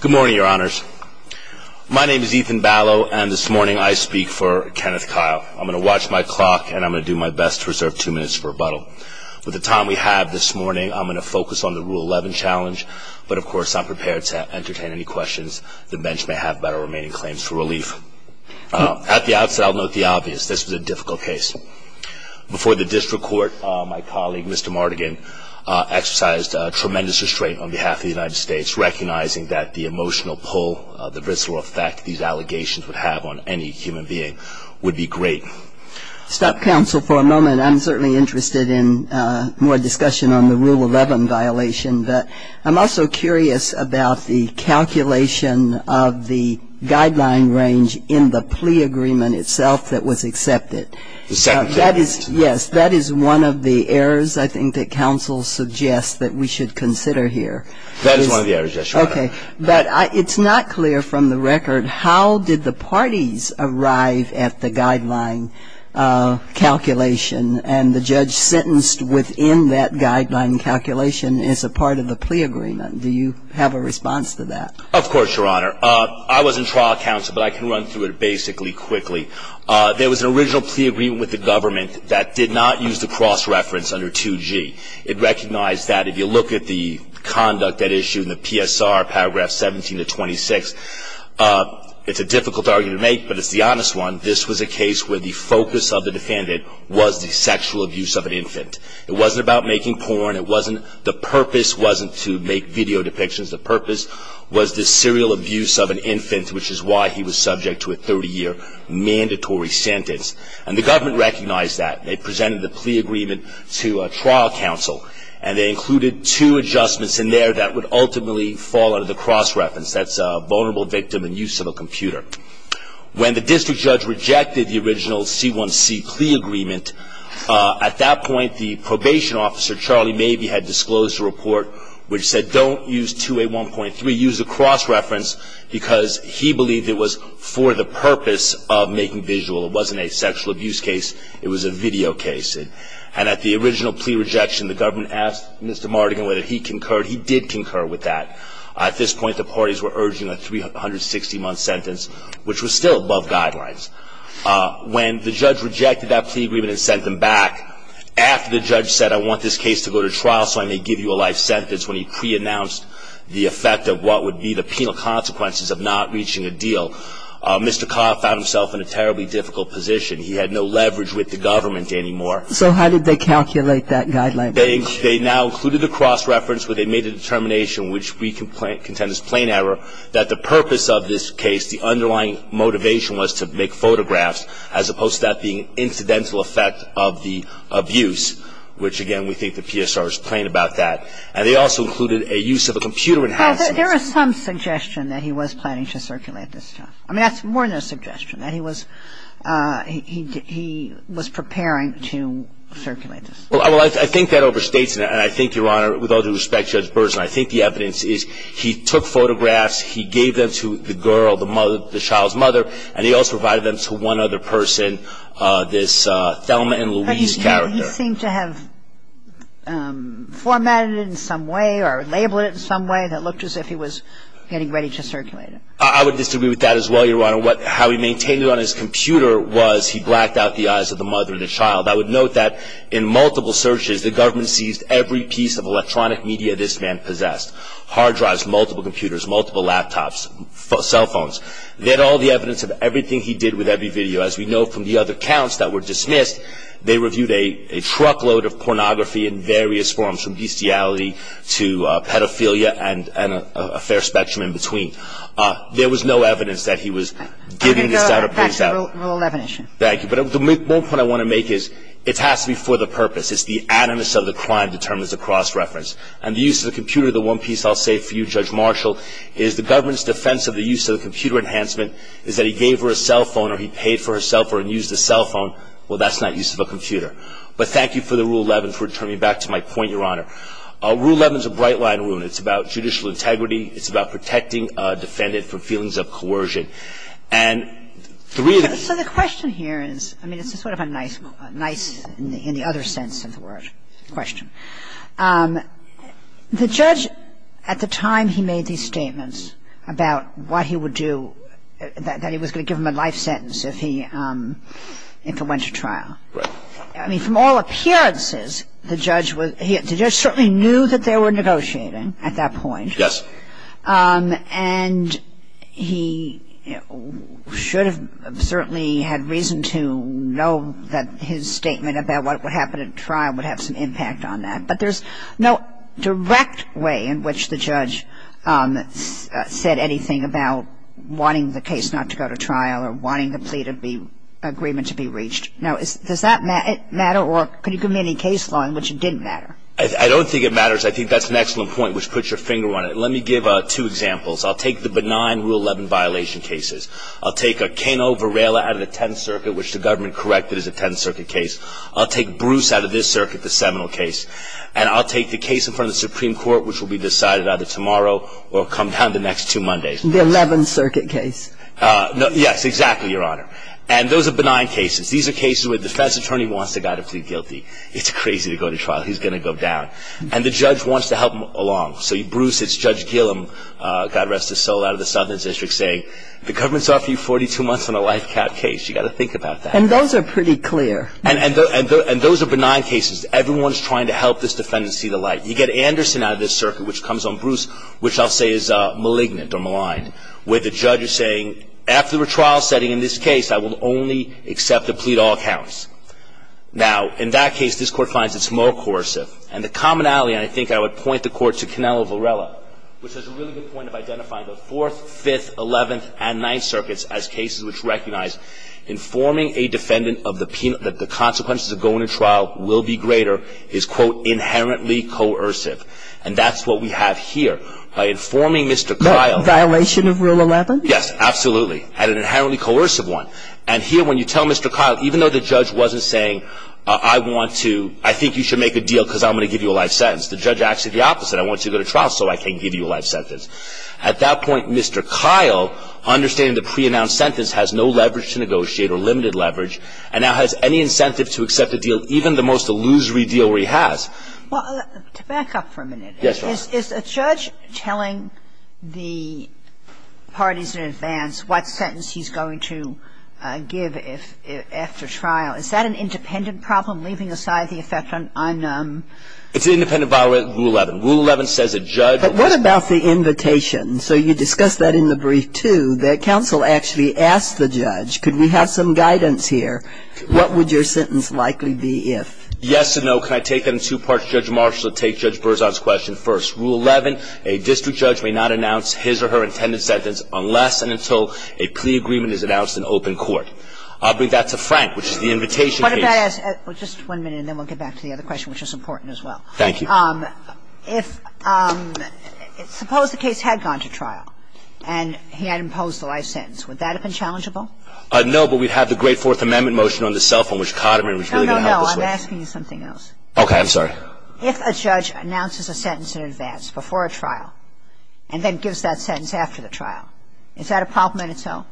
Good morning, your honors. My name is Ethan Ballo, and this morning I speak for Kenneth Kyle. I'm going to watch my clock, and I'm going to do my best to reserve two minutes for rebuttal. With the time we have this morning, I'm going to focus on the Rule 11 challenge, but of course I'm prepared to entertain any questions the bench may have about our remaining claims for relief. At the outset, I'll note the obvious. This was a difficult case. Before the district court, my colleague, Mr. Mardigan, exercised tremendous restraint on behalf of the United States, recognizing that the emotional pull, the visceral effect these allegations would have on any human being would be great. Justice Kagan Stop, counsel, for a moment. I'm certainly interested in more discussion on the Rule 11 violation, but I'm also curious about the calculation of the guideline range in the plea agreement itself that was accepted. Mr. Mardigan The second plea agreement. Justice Kagan Yes, that is one of the errors, I think, that counsel suggests that we should consider here. Mr. Mardigan That is one of the errors, yes, Your Honor. Justice Kagan Okay. But it's not clear from the record how did the parties arrive at the guideline calculation, and the judge sentenced within that guideline calculation as a part of the plea agreement. Do you have a response to that? Mr. Mardigan Of course, Your Honor. I was in trial counsel, but I can run through it basically quickly. There was an original plea agreement with the government that did not use the cross-reference under 2G. It recognized that if you look at the conduct at issue in the PSR, paragraphs 17 to 26, it's a difficult argument to make, but it's the honest one. This was a case where the focus of the defendant was the sexual abuse of an infant. It wasn't about making porn. The purpose wasn't to make video depictions. The purpose was the serial abuse of an infant, which is why he was subject to a 30-year mandatory sentence, and the government recognized that. They presented the plea agreement to trial counsel, and they included two adjustments in there that would ultimately fall under the cross-reference. That's a vulnerable victim and use of a computer. When the district judge rejected the original C1C plea agreement, at that point, the probation officer, Charlie Mabee, had disclosed a report which said don't use 2A1.3. Use the cross-reference because he believed it was for the purpose of making visual. It wasn't a sexual abuse case. It was a video case, and at the original plea rejection, the government asked Mr. Mardigan whether he concurred. He did concur with that. At this point, the parties were urging a 360-month sentence, which was still above guidelines. When the judge rejected that plea agreement and sent them back, after the judge said, I want this case to go to trial so I may give you a life sentence, when he preannounced the effect of what would be the penal consequences of not reaching a deal, Mr. Carr found himself in a terribly difficult position. He had no leverage with the government anymore. So how did they calculate that guideline? They now included a cross-reference where they made a determination, which we contend is plain error, that the purpose of this case, the underlying motivation was to make photographs, as opposed to that being an incidental effect of the abuse, which, again, we think the PSR is plain about that. And they also included a use of a computer-enhanced mechanism. Well, there is some suggestion that he was planning to circulate this stuff. I mean, that's more than a suggestion, that he was preparing to circulate this stuff. Well, I think that overstates it. And I think, Your Honor, with all due respect to Judge Burson, I think the evidence is he took photographs, he gave them to the girl, the child's mother, and he also provided them to one other person, this Thelma and Louise character. But he seemed to have formatted it in some way or labeled it in some way that looked as if he was getting ready to circulate it. I would disagree with that as well, Your Honor. How he maintained it on his computer was he blacked out the eyes of the mother and the child. I would note that in multiple searches the government seized every piece of electronic media this man possessed, hard drives, multiple computers, multiple laptops, cell phones. They had all the evidence of everything he did with every video. As we know from the other counts that were dismissed, they reviewed a truckload of pornography in various forms, from bestiality to pedophilia and a fair spectrum in between. There was no evidence that he was giving this out or I'm going to go back to the rule of definition. Thank you. But the one point I want to make is it has to be for the purpose. It's the animus of the crime that determines the cross-reference. And the use of the computer, the one piece I'll say for you, Judge Marshall, is the government's defense of the use of the computer enhancement is that he gave her a cell phone or he paid for her cell phone and used the cell phone. Well, that's not use of a computer. But thank you for the Rule 11 for turning back to my point, Your Honor. Rule 11 is a bright line rule. It's about judicial integrity. It's about protecting a defendant from feelings of coercion. And three of the So the question here is, I mean, it's sort of a nice, nice in the other sense of the word question. The judge at the time he made these statements about what he would do, that he would go to trial. I mean, from all appearances, the judge certainly knew that they were negotiating at that point. Yes. And he should have certainly had reason to know that his statement about what would happen at trial would have some impact on that. But there's no direct way in which the judge said anything about wanting the case not to go to trial or wanting the plea to be agreement to be reached. Now, does that matter or could you give me any case law in which it didn't matter? I don't think it matters. I think that's an excellent point, which puts your finger on it. Let me give two examples. I'll take the benign Rule 11 violation cases. I'll take a Kano Varela out of the Tenth Circuit, which the government corrected as a Tenth Circuit case. I'll take Bruce out of this circuit, the Seminole case. And I'll take the case in front of the Supreme Court, which will be decided either tomorrow or come down the next two Mondays. The Eleventh Circuit case. Yes, exactly, Your Honor. And those are benign cases. These are cases where the defense attorney wants the guy to plead guilty. It's crazy to go to trial. He's going to go down. And the judge wants to help him along. So Bruce, it's Judge Gillum, God rest his soul, out of the Southern District saying, the government's offering you 42 months on a life cap case. You've got to think about that. And those are pretty clear. And those are benign cases. Everyone's trying to help this defendant see the light. You get Anderson out of this circuit, which comes on Bruce, which I'll say is malignant or maligned, where the judge is saying, after a trial setting in this case, I will only accept a plea to all counts. Now, in that case, this Court finds it's more coercive. And the commonality, and I think I would point the Court to Kano Varela, which has a really good point of identifying the Fourth, Fifth, Eleventh, and Ninth Circuits as cases which recognize informing a defendant that the consequences of going to trial will be greater is, quote, inherently coercive. And that's what we have here. By informing Mr. Kyle... Violation of Rule 11? Yes, absolutely. And an inherently coercive one. And here, when you tell Mr. Kyle, even though the judge wasn't saying, I want to, I think you should make a deal because I'm going to give you a life sentence, the judge acted the opposite. I want you to go to trial so I can give you a life sentence. At that point, Mr. Kyle, understanding the pre-announced sentence has no leverage to negotiate or limited leverage, and now has any incentive to accept a deal, even the most illusory deal where he has. Well, to back up for a minute... Yes, Your Honor. Is a judge telling the parties in advance what sentence he's going to give if, after trial, is that an independent problem, leaving aside the effect on, on... It's an independent violation of Rule 11. Rule 11 says a judge... But what about the invitation? So you discussed that in the brief, too, that counsel actually asked the judge, could we have some guidance here, what would your sentence likely be if... Yes and no. Can I take that in two parts? Judge Marshall will take Judge Berzon's question first. Rule 11, a district judge may not announce his or her intended sentence unless and until a plea agreement is announced in open court. I'll bring that to Frank, which is the invitation case. What if I ask, just one minute, and then we'll get back to the other question, which is important as well. Thank you. If, suppose the case had gone to trial and he had imposed a life sentence, would that have been challengeable? No, but we'd have the Great Fourth Amendment motion on the cell phone, which Codderman was really going to help us with. No, no, no. I'm asking you something else. Okay. I'm sorry. If a judge announces a sentence in advance, before a trial, and then gives that sentence after the trial, is that a problem in itself?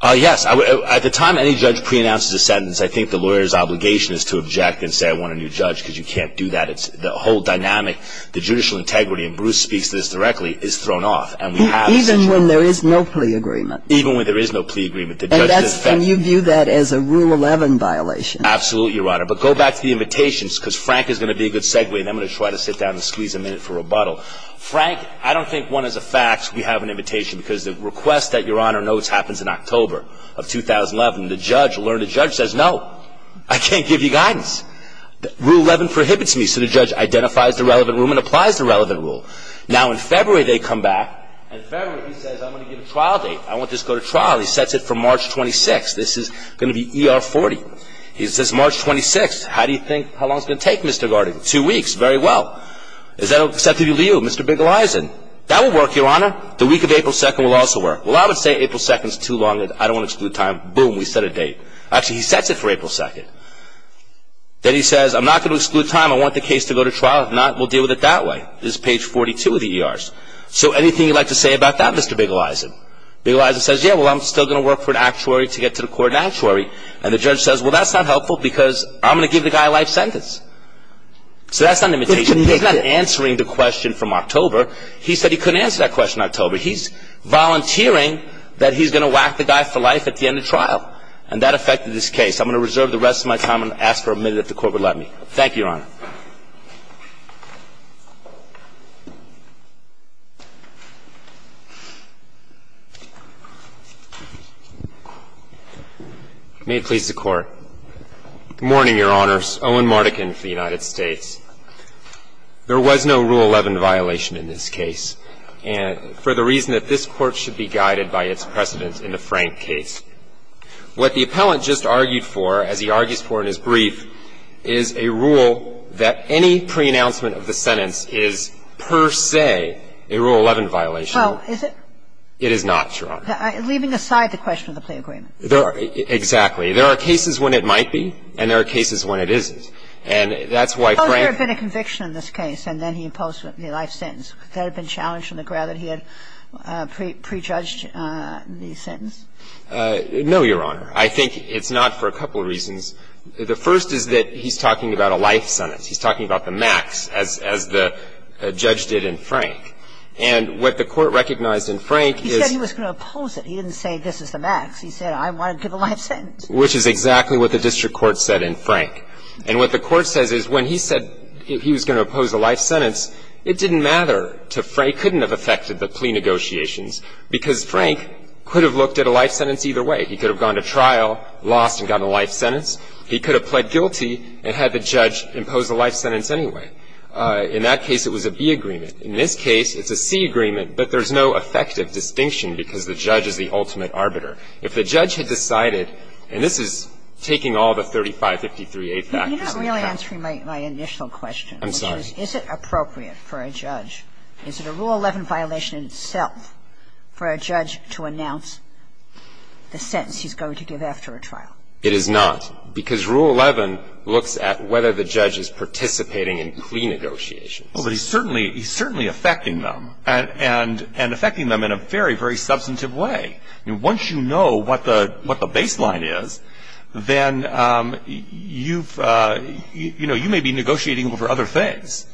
Yes. At the time any judge pre-announces a sentence, I think the lawyer's obligation is to object and say, I want a new judge, because you can't do that. It's the whole dynamic, the judicial integrity, and Bruce speaks to this directly, is thrown off. And we have... Even when there is no plea agreement. Even when there is no plea agreement, the judge doesn't... And you view that as a Rule 11 violation. Absolutely, Your Honor. But go back to the invitations, because Frank is going to be a good segue, and I'm going to try to sit down and squeeze a minute for rebuttal. Frank, I don't think one is a fact, we have an invitation, because the request that Your Honor notes happens in October of 2011. The judge, learned judge, says, no, I can't give you guidance. Rule 11 prohibits me. So the judge identifies the relevant rule and applies the relevant rule. Now, in order for him to just go to trial, he sets it for March 26th. This is going to be ER 40. He says, March 26th, how do you think, how long is it going to take Mr. Gardner? Two weeks, very well. Is that acceptable to you Mr. Bigelizin? That will work, Your Honor. The week of April 2nd will also work. Well, I would say April 2nd is too long, I don't want to exclude time. Boom, we set a date. Actually, he sets it for April 2nd. Then he says, I'm not going to exclude time, I want the case to go to trial, if not, we'll deal with it that way. This is page 42 of the ERs. So anything you'd like to say about that, Mr. Bigelizin? Bigelizin says, yeah, well, I'm still going to work for an actuary to get to the court and actuary. And the judge says, well, that's not helpful because I'm going to give the guy a life sentence. So that's not an invitation. He's not answering the question from October. He said he couldn't answer that question in October. He's volunteering that he's going to whack the guy for life at the end of trial. And that affected this case. I'm going to reserve the rest of my time and ask for a minute if the court would let me. Thank you, Your Honor. May it please the Court. Good morning, Your Honors. Owen Mardekin for the United States. There was no Rule 11 violation in this case for the reason that this Court should be guided by its precedent in the Frank case. What the appellant just argued for, as he argues for in his brief, is a rule that any preannouncement of the sentence is per se a Rule 11 violation. Well, is it? It is not, Your Honor. Leaving aside the question of the plea agreement. Exactly. There are cases when it might be, and there are cases when it isn't. And that's why Frank Well, if there had been a conviction in this case and then he imposed the life sentence, would that have been challenged from the ground that he had prejudged the sentence? No, Your Honor. I think it's not for a couple of reasons. The first is that he's talking about a life sentence. He's talking about the max, as the judge did in Frank. And what the Court recognized in Frank is He said he was going to oppose it. He didn't say this is the max. He said I want to give a life sentence. Which is exactly what the district court said in Frank. And what the Court says is when he said he was going to oppose a life sentence, it didn't matter to Frank. It couldn't have affected the plea negotiations because Frank could have looked at a life sentence either way. He could have gone to trial, lost, and gotten a life sentence. He could have pled guilty and had the judge impose a life sentence anyway. In that case, it was a B agreement. In this case, it's a C agreement, but there's no effective distinction because the judge is the ultimate arbiter. If the judge had decided, and this is taking all the 3553A factors into account You're not really answering my initial question. I'm sorry. Is it appropriate for a judge, is it a Rule 11 violation in itself for a judge to announce the sentence he's going to give after a trial? It is not. Because Rule 11 looks at whether the judge is participating in plea negotiations. Well, but he's certainly affecting them. And affecting them in a very, very substantive way. Once you know what the baseline is, then you may be negotiating over other things.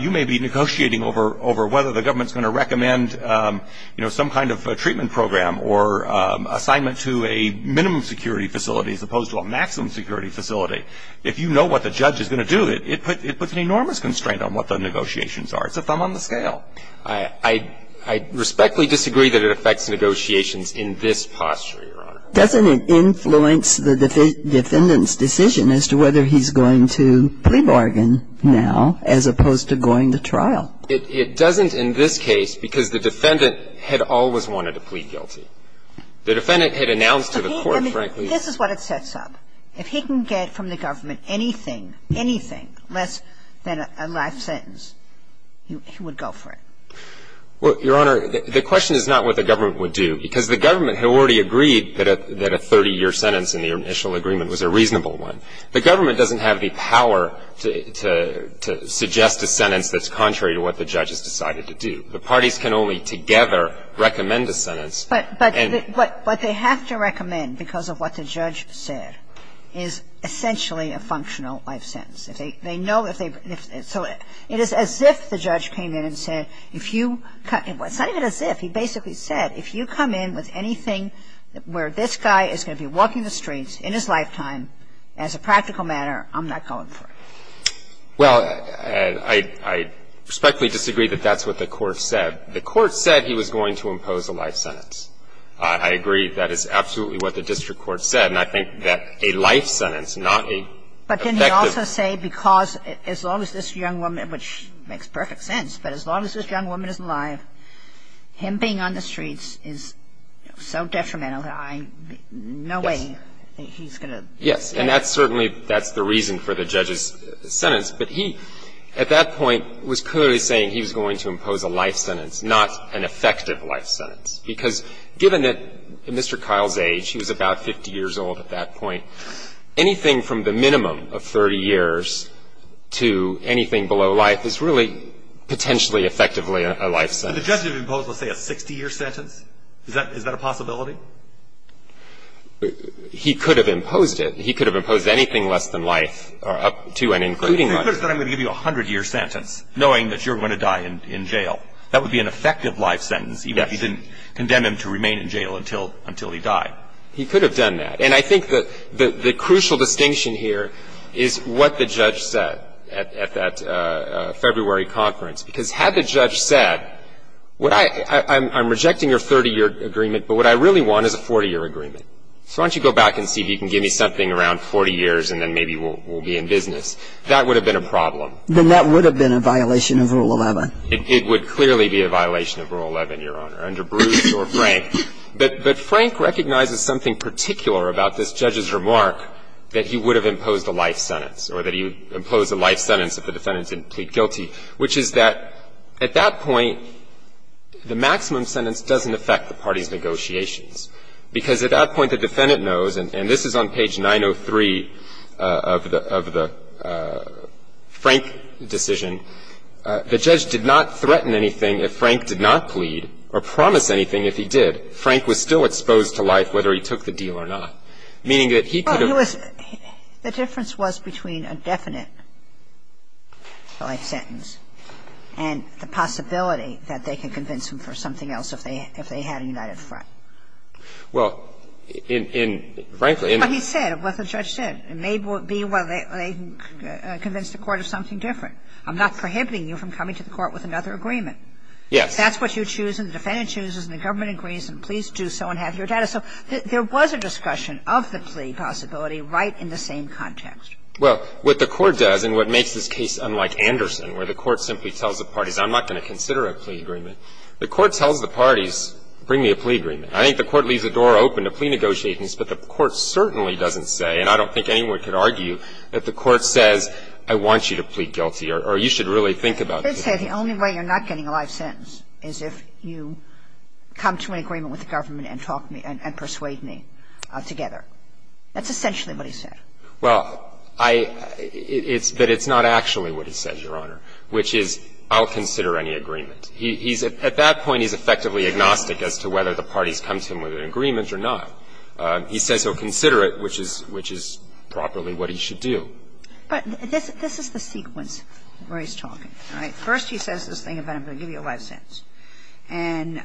You may be negotiating over whether the government's going to recommend some kind of treatment program or assignment to a minimum security facility as opposed to a maximum security facility. If you know what the judge is going to do, it puts an enormous constraint on what the negotiations are. It's a thumb on the scale. I respectfully disagree that it affects negotiations in this posture, Your Honor. Doesn't it influence the defendant's decision as to whether he's going to plea bargain now as opposed to going to trial? It doesn't in this case because the defendant had always wanted to plead guilty. The defendant had announced to the court, frankly — This is what it sets up. If he can get from the government anything, anything less than a life sentence, he would go for it. Well, Your Honor, the question is not what the government would do, because the government had already agreed that a 30-year sentence in the initial agreement was a reasonable one. The government doesn't have the power to suggest a sentence that's contrary to what But what they have to recommend because of what the judge said is essentially a functional life sentence. They know if they — so it is as if the judge came in and said, if you — it's not even as if. He basically said, if you come in with anything where this guy is going to be walking the streets in his lifetime as a practical matter, I'm not going for it. Well, I respectfully disagree that that's what the court said. The court said he was going to impose a life sentence. I agree that is absolutely what the district court said. And I think that a life sentence, not a effective — But didn't he also say because as long as this young woman, which makes perfect sense, but as long as this young woman is alive, him being on the streets is so detrimental that I — no way he's going to — Yes. And that's certainly — that's the reason for the judge's sentence. But he, at that point, was clearly saying he was going to impose a life sentence, not an effective life sentence, because given that Mr. Kyle's age, he was about 50 years old at that point, anything from the minimum of 30 years to anything below life is really potentially effectively a life sentence. But the judge didn't impose, let's say, a 60-year sentence? Is that a possibility? He could have imposed it. He could have imposed anything less than life up to and including life. He could have said, I'm going to give you a 100-year sentence, knowing that you're going to die in jail. That would be an effective life sentence, even if he didn't condemn him to remain in jail until he died. He could have done that. And I think that the crucial distinction here is what the judge said at that February conference, because had the judge said, I'm rejecting your 30-year agreement, but what I really want is a 40-year agreement. So why don't you go back and see if you can give me something around 40 years, and then maybe we'll be in business. That would have been a problem. Then that would have been a violation of Rule 11. It would clearly be a violation of Rule 11, Your Honor, under Bruce or Frank. But Frank recognizes something particular about this judge's remark that he would have imposed a life sentence or that he would impose a life sentence if the defendant didn't plead guilty, which is that at that point, the maximum sentence doesn't affect the party's negotiations. Because at that point, the defendant knows, and this is on page 903 of the Frank decision, the judge did not threaten anything if Frank did not plead or promise anything if he did. Frank was still exposed to life whether he took the deal or not, meaning that he could have ---- The difference was between a definite life sentence and the possibility that they could convince him for something else if they had a united front. Well, in ---- But he said what the judge said. It may be whether they convinced the court of something different. I'm not prohibiting you from coming to the court with another agreement. Yes. If that's what you choose and the defendant chooses and the government agrees, then please do so and have your data. So there was a discussion of the plea possibility right in the same context. Well, what the Court does and what makes this case unlike Anderson, where the Court simply tells the parties, I'm not going to consider a plea agreement, the Court tells the parties, bring me a plea agreement. I think the Court leaves the door open to plea negotiations, but the Court certainly doesn't say, and I don't think anyone could argue, that the Court says, I want you to plead guilty or you should really think about it. The only way you're not getting a life sentence is if you come to an agreement with the government and talk to me and persuade me together. That's essentially what he said. Well, I – it's that it's not actually what he said, Your Honor, which is I'll consider any agreement. He's – at that point, he's effectively agnostic as to whether the parties come to him with an agreement or not. He says he'll consider it, which is – which is properly what he should do. But this is the sequence where he's talking. All right. First he says this thing about I'm going to give you a life sentence. And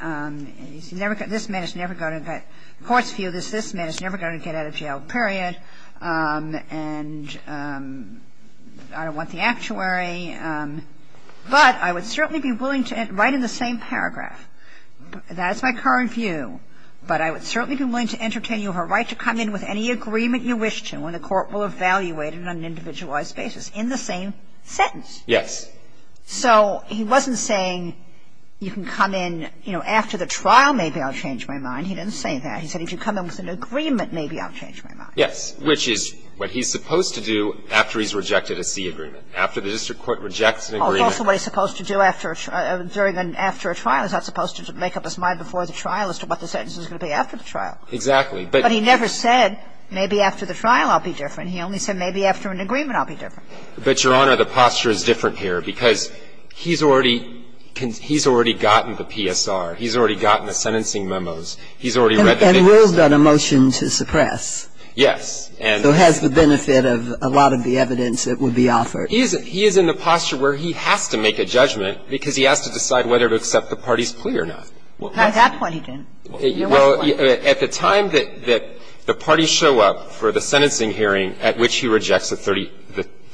this man is never going to get – the Court's view is this man is never going to get out of jail, period. And I don't want the actuary. But I would certainly be willing to – right in the same paragraph. That's my current view. But I would certainly be willing to entertain you her right to come in with any agreement you wish to and the Court will evaluate it on an individualized basis in the same sentence. Yes. So he wasn't saying you can come in, you know, after the trial, maybe I'll change my mind. He didn't say that. He said if you come in with an agreement, maybe I'll change my mind. Yes. Which is what he's supposed to do after he's rejected a C agreement, after the district court rejects an agreement. Also what he's supposed to do after – during and after a trial. He's not supposed to make up his mind before the trial as to what the sentence is going to be after the trial. Exactly. But he never said maybe after the trial I'll be different. He only said maybe after an agreement I'll be different. But, Your Honor, the posture is different here because he's already – he's already gotten the PSR. He's already gotten the sentencing memos. He's already read the – And Will's got a motion to suppress. Yes. So it has the benefit of a lot of the evidence that would be offered. He is in the posture where he has to make a judgment because he has to decide whether to accept the party's plea or not. At that point he didn't. Well, at the time that the parties show up for the sentencing hearing at which he rejects the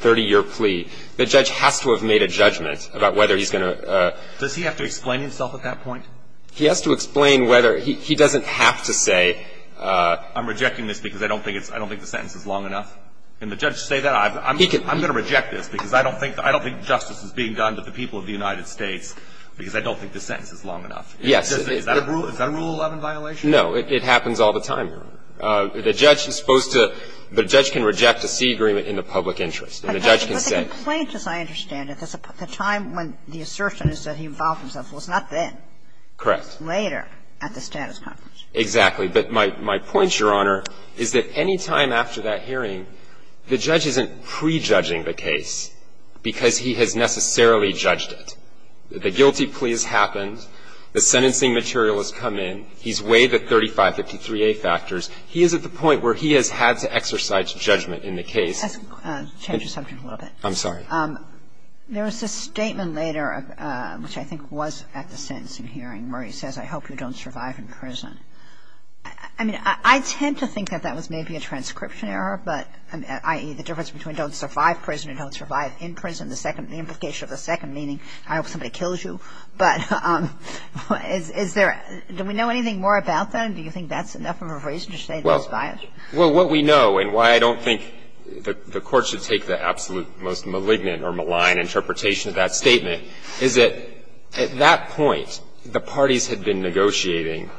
30-year plea, the judge has to have made a judgment about whether he's going to – Does he have to explain himself at that point? He has to explain whether – he doesn't have to say I'm rejecting this because I don't think it's – I don't think the sentence is long enough. Can the judge say that? He can. I'm going to reject this because I don't think justice is being done to the people of the United States because I don't think the sentence is long enough. Yes. Is that a Rule 11 violation? No. It happens all the time, Your Honor. The judge is supposed to – the judge can reject a C agreement in the public interest and the judge can say – But the complaint, as I understand it, at the time when the assertion is that he vowed Correct. Later at the status conference. Exactly. But my point, Your Honor, is that any time after that hearing, the judge isn't prejudging the case because he has necessarily judged it. The guilty plea has happened. The sentencing material has come in. He's weighed the 3553A factors. He is at the point where he has had to exercise judgment in the case. Let's change the subject a little bit. I'm sorry. There was this statement later, which I think was at the sentencing hearing, where he says, I hope you don't survive in prison. I mean, I tend to think that that was maybe a transcription error, but – i.e., the difference between don't survive prison and don't survive in prison, the implication of the second meaning, I hope somebody kills you. But is there – do we know anything more about that? Do you think that's enough of a reason to say that's biased? Well, what we know, and why I don't think the Court should take the absolute most malignant or malign interpretation of that statement, is that at that point, the parties had been negotiating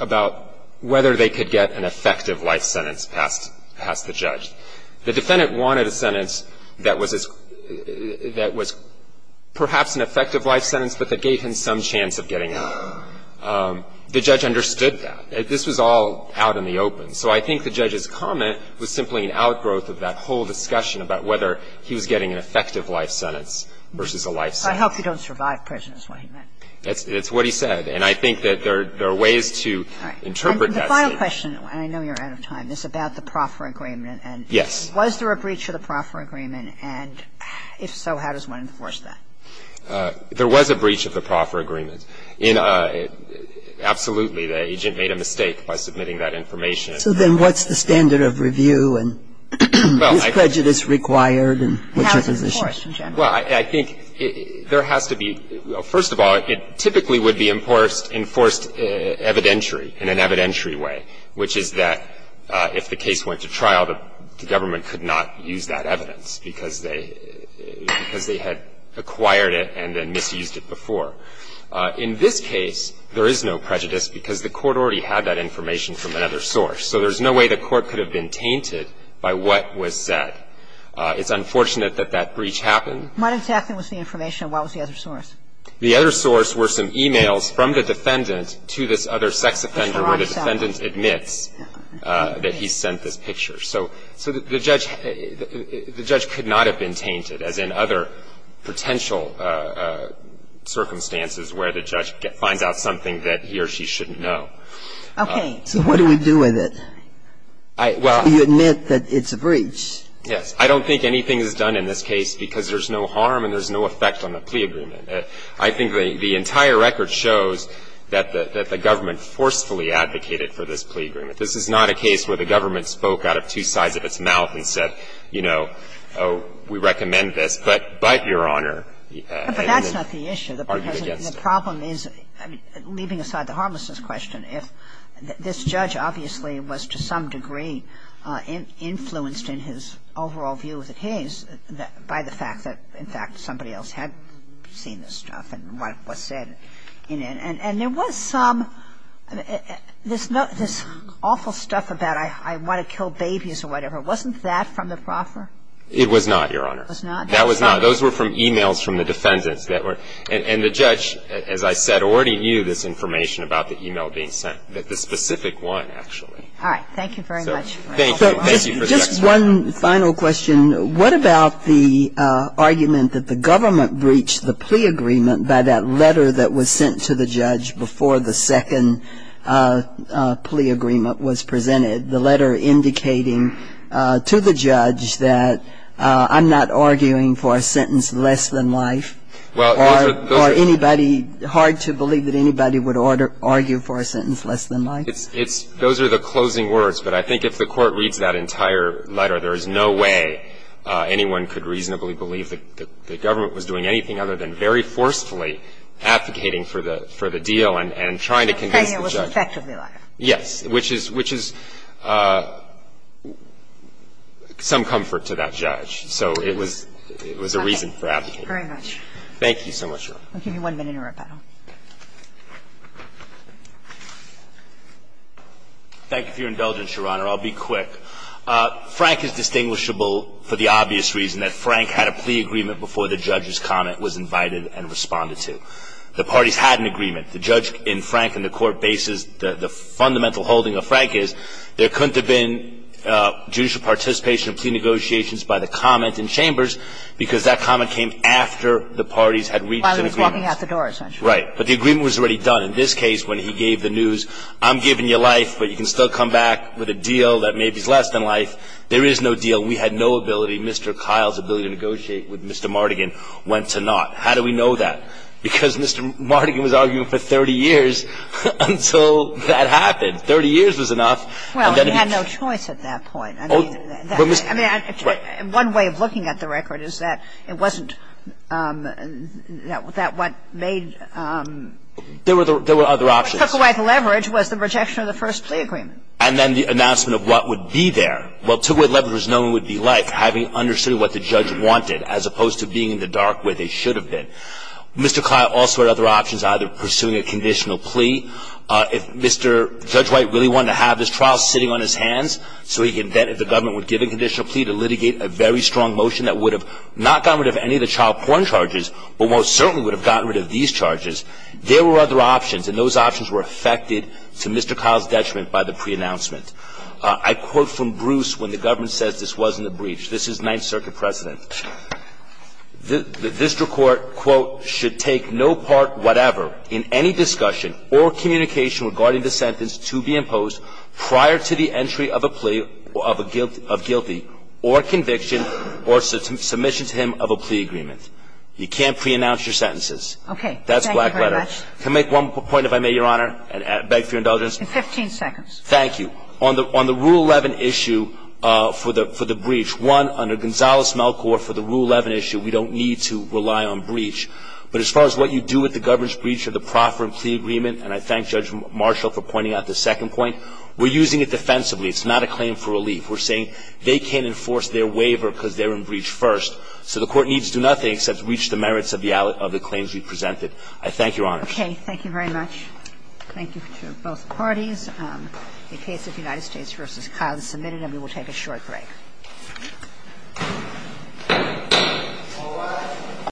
about whether they could get an effective life sentence passed the judge. The defendant wanted a sentence that was perhaps an effective life sentence, but that gave him some chance of getting out. The judge understood that. This was all out in the open. So I think the judge's comment was simply an outgrowth of that whole discussion about whether he was getting an effective life sentence versus a life sentence. I hope you don't survive prison is what he meant. It's what he said. And I think that there are ways to interpret that statement. The final question, and I know you're out of time, is about the proffer agreement. Yes. Was there a breach of the proffer agreement? And if so, how does one enforce that? There was a breach of the proffer agreement. I don't think there was a breach of the proffer agreement. I think there was an evidence in the case that the government could not use that evidence. In absolutely the agent made a mistake by submitting that information. So then what's the standard of review and is prejudice required? I think there has to be, first of all, it typically would be enforced evidentiary, in an evidentiary way, which is that if the case went to trial, the government could not use that evidence because they had acquired it and then misused it before. In this case, there is no prejudice because the court already had that information from another source. So there's no way the court could have been tainted by what was said. It's unfortunate that that breach happened. What exactly was the information and what was the other source? The other source were some e-mails from the defendant to this other sex offender where the defendant admits that he sent this picture. So the judge could not have been tainted, as in other potential circumstances where the judge finds out something that he or she shouldn't know. Okay. So what do we do with it? Do you admit that it's a breach? Yes. I don't think anything is done in this case because there's no harm and there's no effect on the plea agreement. I think the entire record shows that the government forcefully advocated for this plea agreement. This is not a case where the government spoke out of two sides of its mouth and said, you know, oh, we recommend this, but, Your Honor, are you against it? But that's not the issue. The problem is, leaving aside the harmlessness question, if this judge obviously was to some degree influenced in his overall view of the case by the fact that, in fact, somebody else had seen this stuff and what was said in it. And there was some, this awful stuff about I want to kill babies or whatever, wasn't that from the proffer? It was not, Your Honor. It was not? That was not. Those were from e-mails from the defendants that were. And the judge, as I said, already knew this information about the e-mail being sent, the specific one, actually. All right. Thank you very much. Thank you. Thank you for the expertise. One final question. What about the argument that the government breached the plea agreement by that letter that was sent to the judge before the second plea agreement was presented, the letter indicating to the judge that I'm not arguing for a sentence less than life? Well, those are. Or anybody, hard to believe that anybody would argue for a sentence less than life? Those are the closing words. But I think if the court reads that entire letter, there is no way anyone could reasonably believe that the government was doing anything other than very forcefully advocating for the deal and trying to convince the judge. Saying it was effectively life. Yes. Which is some comfort to that judge. So it was a reason for advocating. Okay. Very much. Thank you so much, Your Honor. I'll give you one minute in rebuttal. Thank you for your indulgence, Your Honor. I'll be quick. Frank is distinguishable for the obvious reason that Frank had a plea agreement before the judge's comment was invited and responded to. The parties had an agreement. The judge in Frank and the court basis, the fundamental holding of Frank is, there couldn't have been judicial participation of plea negotiations by the comment in It's just that he was not looking at the door, essentially. Right. But the agreement was already done. In this case, when he gave the news, I'm giving you life, but you can still come back with a deal that maybe is less than life, there is no deal. We had no ability, Mr. Kyle's ability to negotiate with Mr. Mardigan went to naught. How do we know that? Because Mr. Mardigan was arguing for 30 years until that happened. 30 years was enough. Well, he had no choice at that point. I mean, one way of looking at the record is that it wasn't that what made. There were other options. What took away the leverage was the rejection of the first plea agreement. And then the announcement of what would be there. What took away the leverage was knowing what it would be like, having understood what the judge wanted as opposed to being in the dark where they should have been. Mr. Kyle also had other options, either pursuing a conditional plea. If Mr. Judge White really wanted to have this trial sitting on his hands, so he could then, if the government would give him a conditional plea, to litigate a very strong motion that would have not gotten rid of any of the child porn charges, but most certainly would have gotten rid of these charges. There were other options. And those options were affected to Mr. Kyle's detriment by the preannouncement. I quote from Bruce when the government says this wasn't a breach. This is Ninth Circuit precedent. The district court, quote, should take no part whatever in any discussion or communication regarding the sentence to be imposed prior to the entry of a plea of a guilty or conviction or submission to him of a plea agreement. You can't preannounce your sentences. That's black letter. Thank you very much. Can I make one point, if I may, Your Honor, and beg for your indulgence? Fifteen seconds. Thank you. On the Rule 11 issue for the breach, one, under Gonzales-Melcore, for the Rule 11 issue, we don't need to rely on breach. But as far as what you do with the government's breach of the proffer and plea agreement, and I thank Judge Marshall for pointing out the second point, we're using it defensively. It's not a claim for relief. We're saying they can't enforce their waiver because they're in breach first. So the Court needs to do nothing except reach the merits of the claims you presented. I thank Your Honor. Thank you very much. Thank you to both parties. The case of United States v. Kyle is submitted, and we will take a short break.